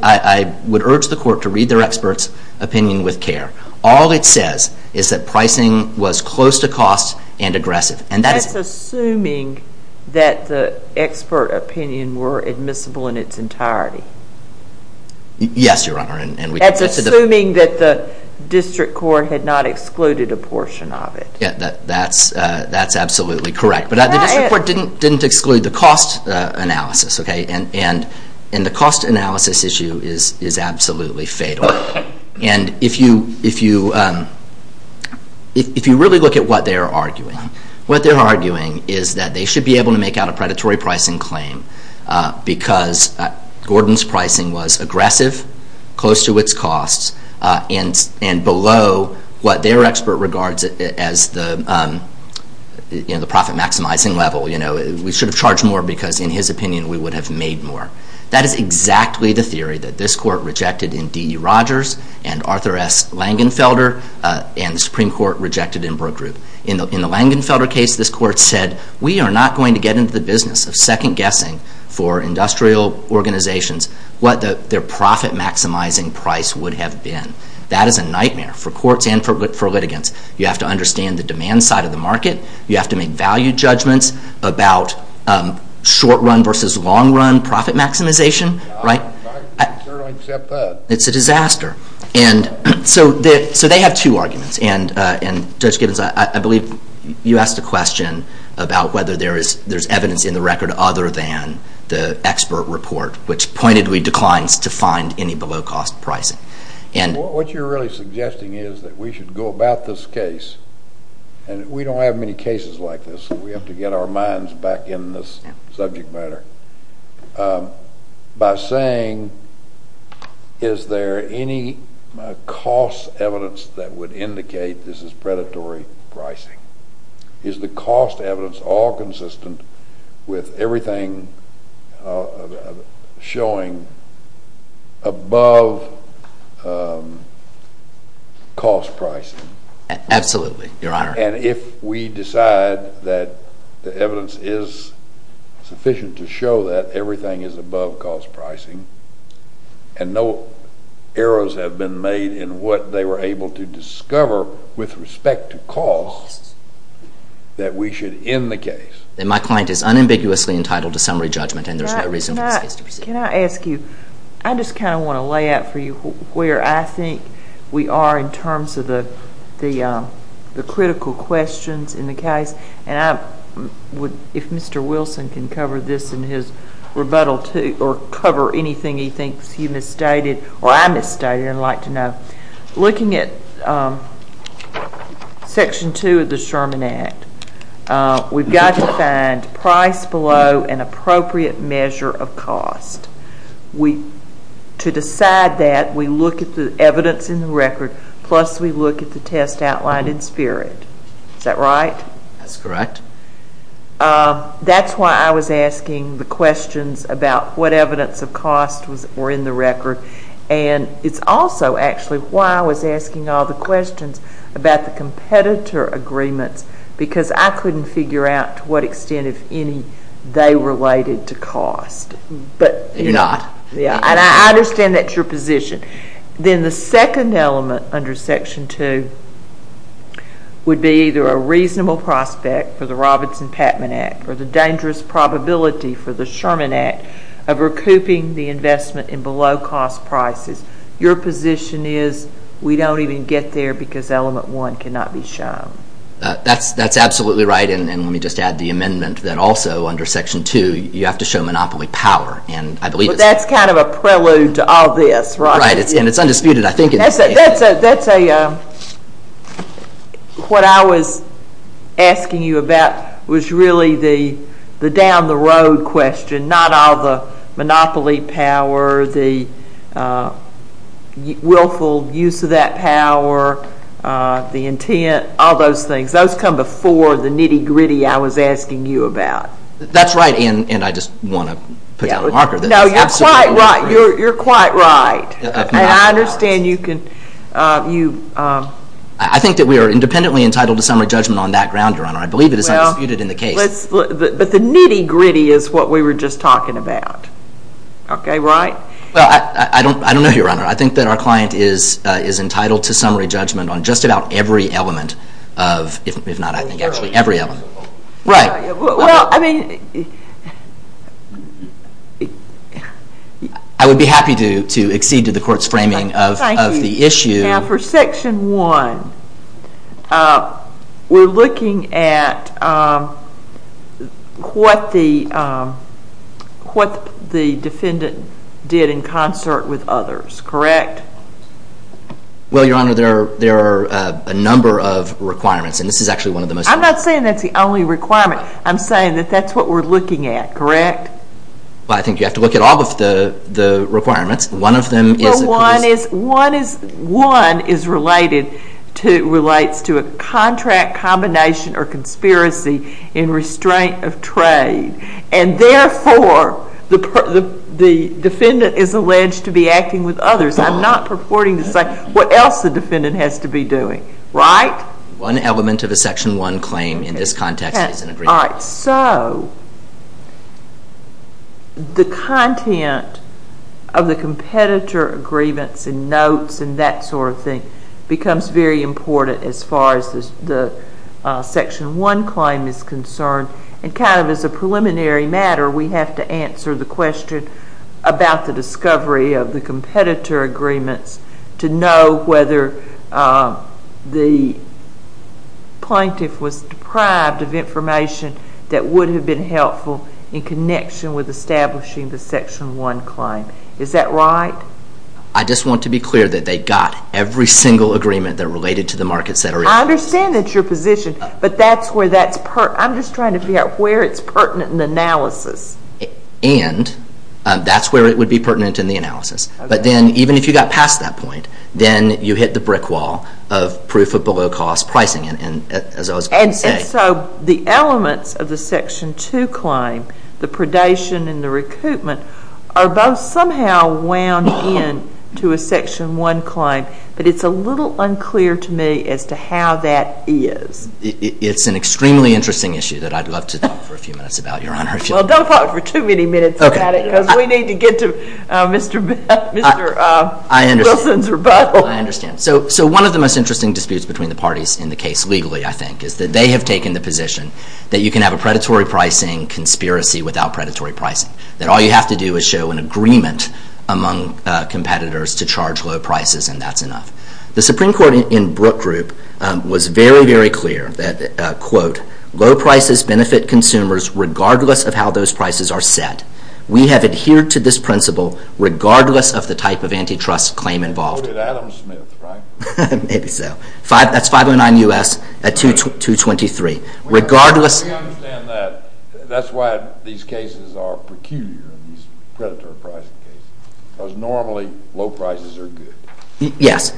I would urge the Court to read their expert's opinion with care. All it says is that pricing was close to cost and aggressive. That's assuming that the expert opinion were admissible in its entirety. Yes, Your Honor. That's assuming that the District Court had not excluded a portion of it. That's absolutely correct. But the District Court didn't exclude the cost analysis. And the cost analysis issue is absolutely fatal. And if you really look at what they're arguing, what they're arguing is that they should be able to make out a predatory pricing claim because Gordon's pricing was aggressive, close to its cost, and below what their expert regards as the profit-maximizing level. We should have charged more because, in his opinion, we would have made more. That is exactly the theory that this Court rejected in D.E. Rogers and Arthur S. Langenfelder and the Supreme Court rejected in Brooke Group. In the Langenfelder case, this Court said, we are not going to get into the business of second-guessing for industrial organizations what their profit-maximizing price would have been. That is a nightmare for courts and for litigants. You have to understand the demand side of the market. You have to make value judgments about short-run versus long-run profit-maximization. I certainly accept that. It's a disaster. So they have two arguments. And, Judge Gibbons, I believe you asked a question about whether there's evidence in the record other than the expert report, which pointedly declines to find any below-cost pricing. What you're really suggesting is that we should go about this case and we don't have many cases like this, so we have to get our minds back in this subject matter, by saying, is there any cost evidence that would indicate this is predatory pricing? Is the cost evidence all consistent with everything showing above-cost pricing? Absolutely, Your Honor. And if we decide that the evidence is sufficient to show that everything is above-cost pricing and no errors have been made in what they were able to discover with respect to cost, that we should end the case. My client is unambiguously entitled to summary judgment and there's no reason for this case to proceed. Judge, can I ask you, I just kind of want to lay out for you where I think we are in terms of the critical questions in the case. And if Mr. Wilson can cover this in his rebuttal or cover anything he thinks you misstated or I misstated, I'd like to know. Looking at Section 2 of the Sherman Act, we've got to find price below an appropriate measure of cost. To decide that, we look at the evidence in the record, plus we look at the test outlined in SPIRT. Is that right? That's correct. That's why I was asking the questions about what evidence of cost were in the record. And it's also actually why I was asking all the questions about the competitor agreements because I couldn't figure out to what extent, if any, they related to cost. You're not. And I understand that's your position. Then the second element under Section 2 would be either a reasonable prospect for the Robinson-Patman Act or the dangerous probability for the Sherman Act of recouping the investment in below-cost prices. Your position is we don't even get there because Element 1 cannot be shown. That's absolutely right. And let me just add the amendment that also under Section 2, you have to show monopoly power. That's kind of a prelude to all this, right? Right. And it's undisputed. What I was asking you about was really the down-the-road question, not all the monopoly power, the willful use of that power, the intent, all those things. Those come before the nitty-gritty I was asking you about. That's right, and I just want to put down a marker. No, you're quite right. And I understand you can— I think that we are independently entitled to summary judgment on that ground, Your Honor. I believe it is undisputed in the case. But the nitty-gritty is what we were just talking about. Okay, right? I don't know, Your Honor. I think that our client is entitled to summary judgment on just about every element of—if not, I think, actually every element. Right. Well, I mean— I would be happy to accede to the Court's framing of the issue. Thank you. Now, for Section 1, we're looking at what the defendant did in concert with others, correct? Well, Your Honor, there are a number of requirements, and this is actually one of the most— I'm not saying that's the only requirement. I'm saying that that's what we're looking at, correct? Well, I think you have to look at all of the requirements. One of them is— But one is—one is related to—relates to a contract combination or conspiracy in restraint of trade. And therefore, the defendant is alleged to be acting with others. I'm not purporting to say what else the defendant has to be doing, right? One element of a Section 1 claim in this context is an agreement. All right. So, the content of the competitor agreements and notes and that sort of thing becomes very important as far as the Section 1 claim is concerned. And kind of as a preliminary matter, we have to answer the question about the discovery of the competitor agreements to know whether the plaintiff was deprived of information that would have been helpful in connection with establishing the Section 1 claim. Is that right? I just want to be clear that they got every single agreement that related to the markets that are— I understand that's your position, but that's where that's—I'm just trying to figure out where it's pertinent in the analysis. And that's where it would be pertinent in the analysis. But then, even if you got past that point, then you hit the brick wall of proof of below-cost pricing, as I was going to say. And so, the elements of the Section 2 claim, the predation and the recoupment, are both somehow wound in to a Section 1 claim. But it's a little unclear to me as to how that is. It's an extremely interesting issue that I'd love to talk for a few minutes about, Your Honor. Well, don't talk for too many minutes about it, because we need to get to Mr. Wilson's rebuttal. I understand. So, one of the most interesting disputes between the parties in the case legally, I think, is that they have taken the position that you can have a predatory pricing conspiracy without predatory pricing. That all you have to do is show an agreement among competitors to charge low prices, and that's enough. The Supreme Court in Brooke Group was very, very clear that, quote, low prices benefit consumers regardless of how those prices are set. We have adhered to this principle regardless of the type of antitrust claim involved. Quoted Adam Smith, right? Maybe so. That's 509 U.S. at 223. We understand that. That's why these cases are peculiar, these predatory pricing cases, because normally low prices are good. Yes.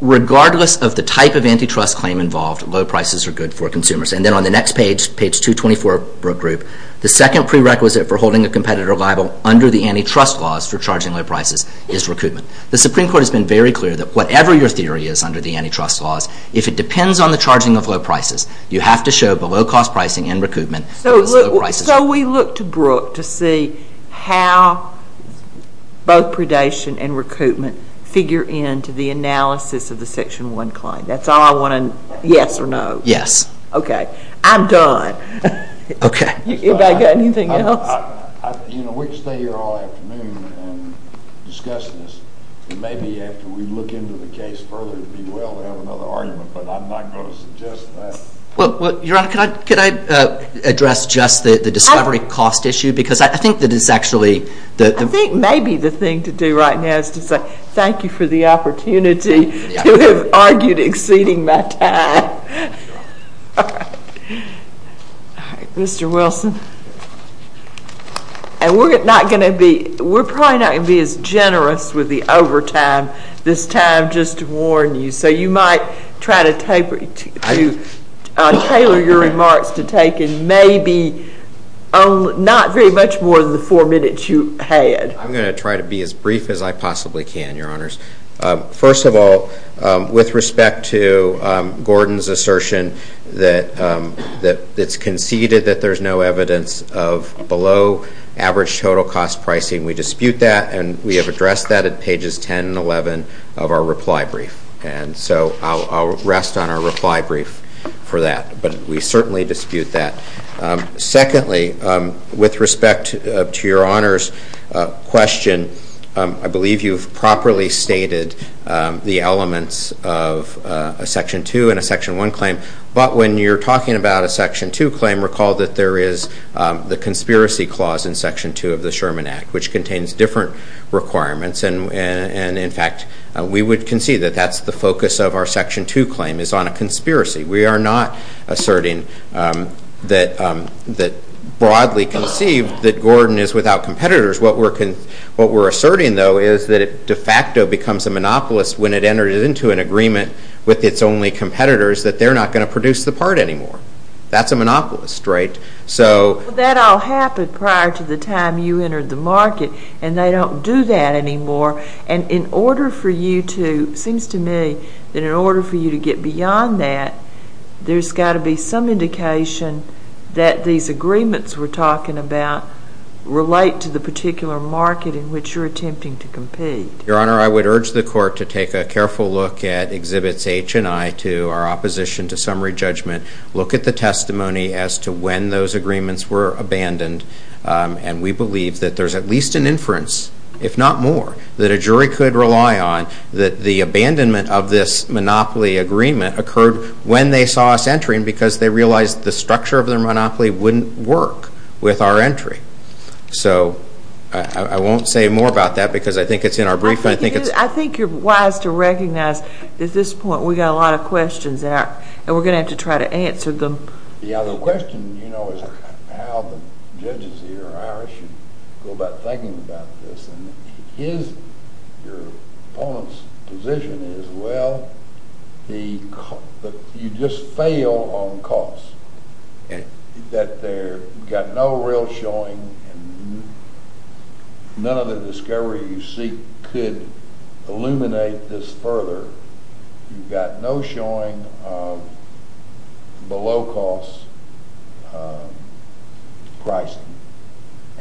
Regardless of the type of antitrust claim involved, low prices are good for consumers. And then on the next page, page 224 of Brooke Group, the second prerequisite for holding a competitor liable under the antitrust laws for charging low prices is recoupment. The Supreme Court has been very clear that whatever your theory is under the antitrust laws, if it depends on the charging of low prices, you have to show below-cost pricing and recoupment. So we look to Brooke to see how both predation and recoupment figure into the analysis of the Section 1 claim. That's all I want to know, yes or no. Yes. Okay. I'm done. Okay. Anybody got anything else? We could stay here all afternoon and discuss this, and maybe after we look into the case further, it would be well to have another argument, but I'm not going to suggest that. Well, Your Honor, could I address just the discovery cost issue? Because I think that it's actually the— I think maybe the thing to do right now is to say thank you for the opportunity to have argued exceeding my time. All right. All right, Mr. Wilson. And we're not going to be—we're probably not going to be as generous with the overtime this time, just to warn you. So you might try to tailor your remarks to take in maybe not very much more than the four minutes you had. I'm going to try to be as brief as I possibly can, Your Honors. First of all, with respect to Gordon's assertion that it's conceded that there's no evidence of below-average total cost pricing, we dispute that, and we have addressed that at pages 10 and 11 of our reply brief. And so I'll rest on our reply brief for that. But we certainly dispute that. Secondly, with respect to Your Honor's question, I believe you've properly stated the elements of a Section 2 and a Section 1 claim. But when you're talking about a Section 2 claim, recall that there is the conspiracy clause in Section 2 of the Sherman Act, which contains different requirements. And, in fact, we would concede that that's the focus of our Section 2 claim is on a conspiracy. We are not asserting that broadly conceived that Gordon is without competitors. What we're asserting, though, is that it de facto becomes a monopolist when it enters into an agreement with its only competitors that they're not going to produce the part anymore. That's a monopolist, right? Well, that all happened prior to the time you entered the market, and they don't do that anymore. And it seems to me that in order for you to get beyond that, there's got to be some indication that these agreements we're talking about relate to the particular market in which you're attempting to compete. Your Honor, I would urge the Court to take a careful look at Exhibits H and I to our opposition to summary judgment, look at the testimony as to when those agreements were abandoned, and we believe that there's at least an inference, if not more, that a jury could rely on that the abandonment of this monopoly agreement occurred when they saw us entering because they realized the structure of their monopoly wouldn't work with our entry. So, I won't say more about that because I think it's in our briefing. I think you're wise to recognize that at this point we've got a lot of questions, and we're going to have to try to answer them. Yeah, the question, you know, is how the judges here or ours should go about thinking about this. And your opponent's position is, well, you just fail on cost. You've got no real showing, and none of the discovery you seek could illuminate this further. You've got no showing of below-cost pricing,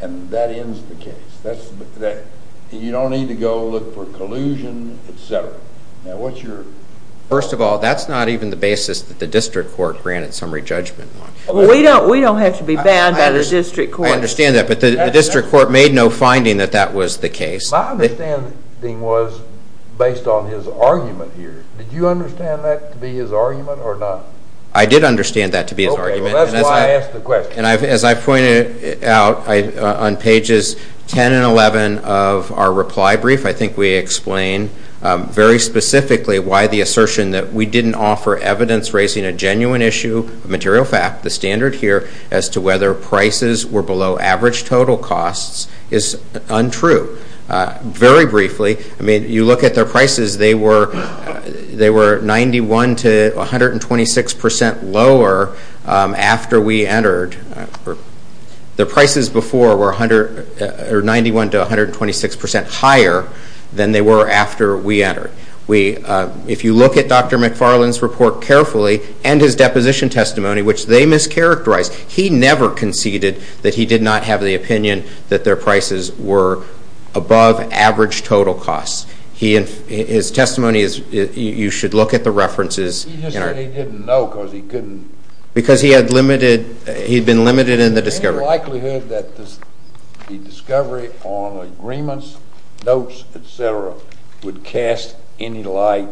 and that ends the case. You don't need to go look for collusion, et cetera. First of all, that's not even the basis that the district court granted summary judgment on. Well, we don't have to be bound by the district court. I understand that, but the district court made no finding that that was the case. My understanding was based on his argument here. Did you understand that to be his argument or not? I did understand that to be his argument. Okay, well, that's why I asked the question. And as I pointed out on pages 10 and 11 of our reply brief, I think we explain very specifically why the assertion that we didn't offer evidence raising a genuine issue, a material fact, the standard here, as to whether prices were below average total costs is untrue. Very briefly, you look at their prices. They were 91 to 126 percent lower after we entered. Their prices before were 91 to 126 percent higher than they were after we entered. If you look at Dr. McFarland's report carefully and his deposition testimony, which they mischaracterized, he never conceded that he did not have the opinion that their prices were above average total costs. His testimony is you should look at the references. He just said he didn't know because he couldn't. Because he had been limited in the discovery. Any likelihood that the discovery on agreements, notes, et cetera, would cast any light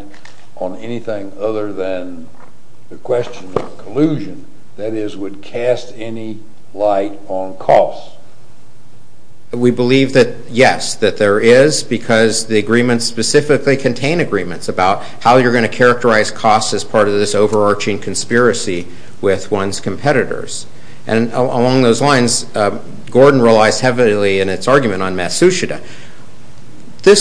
on anything other than the question of collusion, that is, would cast any light on costs? We believe that, yes, that there is because the agreements specifically contain agreements about how you're going to characterize costs as part of this overarching conspiracy with one's competitors. And along those lines, Gordon relies heavily in its argument on Matsushita. In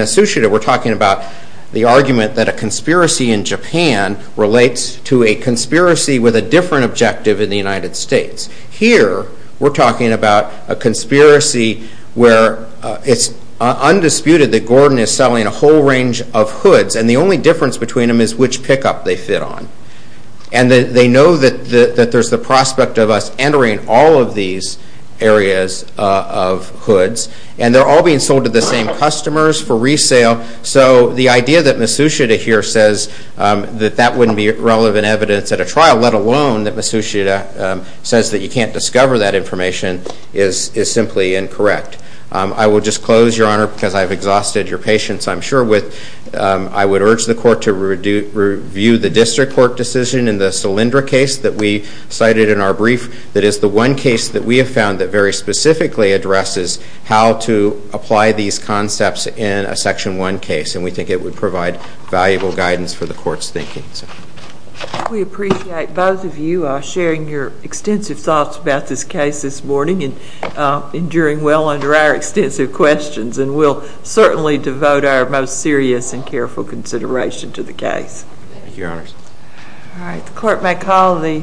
Matsushita we're talking about the argument that a conspiracy in Japan relates to a conspiracy with a different objective in the United States. Here we're talking about a conspiracy where it's undisputed that Gordon is selling a whole range of hoods and the only difference between them is which pickup they fit on. And they know that there's the prospect of us entering all of these areas of hoods and they're all being sold to the same customers for resale. So the idea that Matsushita here says that that wouldn't be relevant evidence at a trial, let alone that Matsushita says that you can't discover that information, is simply incorrect. I will just close, Your Honor, because I've exhausted your patience, I'm sure, with I would urge the Court to review the District Court decision in the Solyndra case that we cited in our brief that is the one case that we have found that very specifically addresses how to apply these concepts in a Section 1 case. And we think it would provide valuable guidance for the Court's thinking. We appreciate both of you sharing your extensive thoughts about this case this morning and enduring well under our extensive questions. And we'll certainly devote our most serious and careful consideration to the case. Thank you, Your Honors. All right. The Court may call the hearing.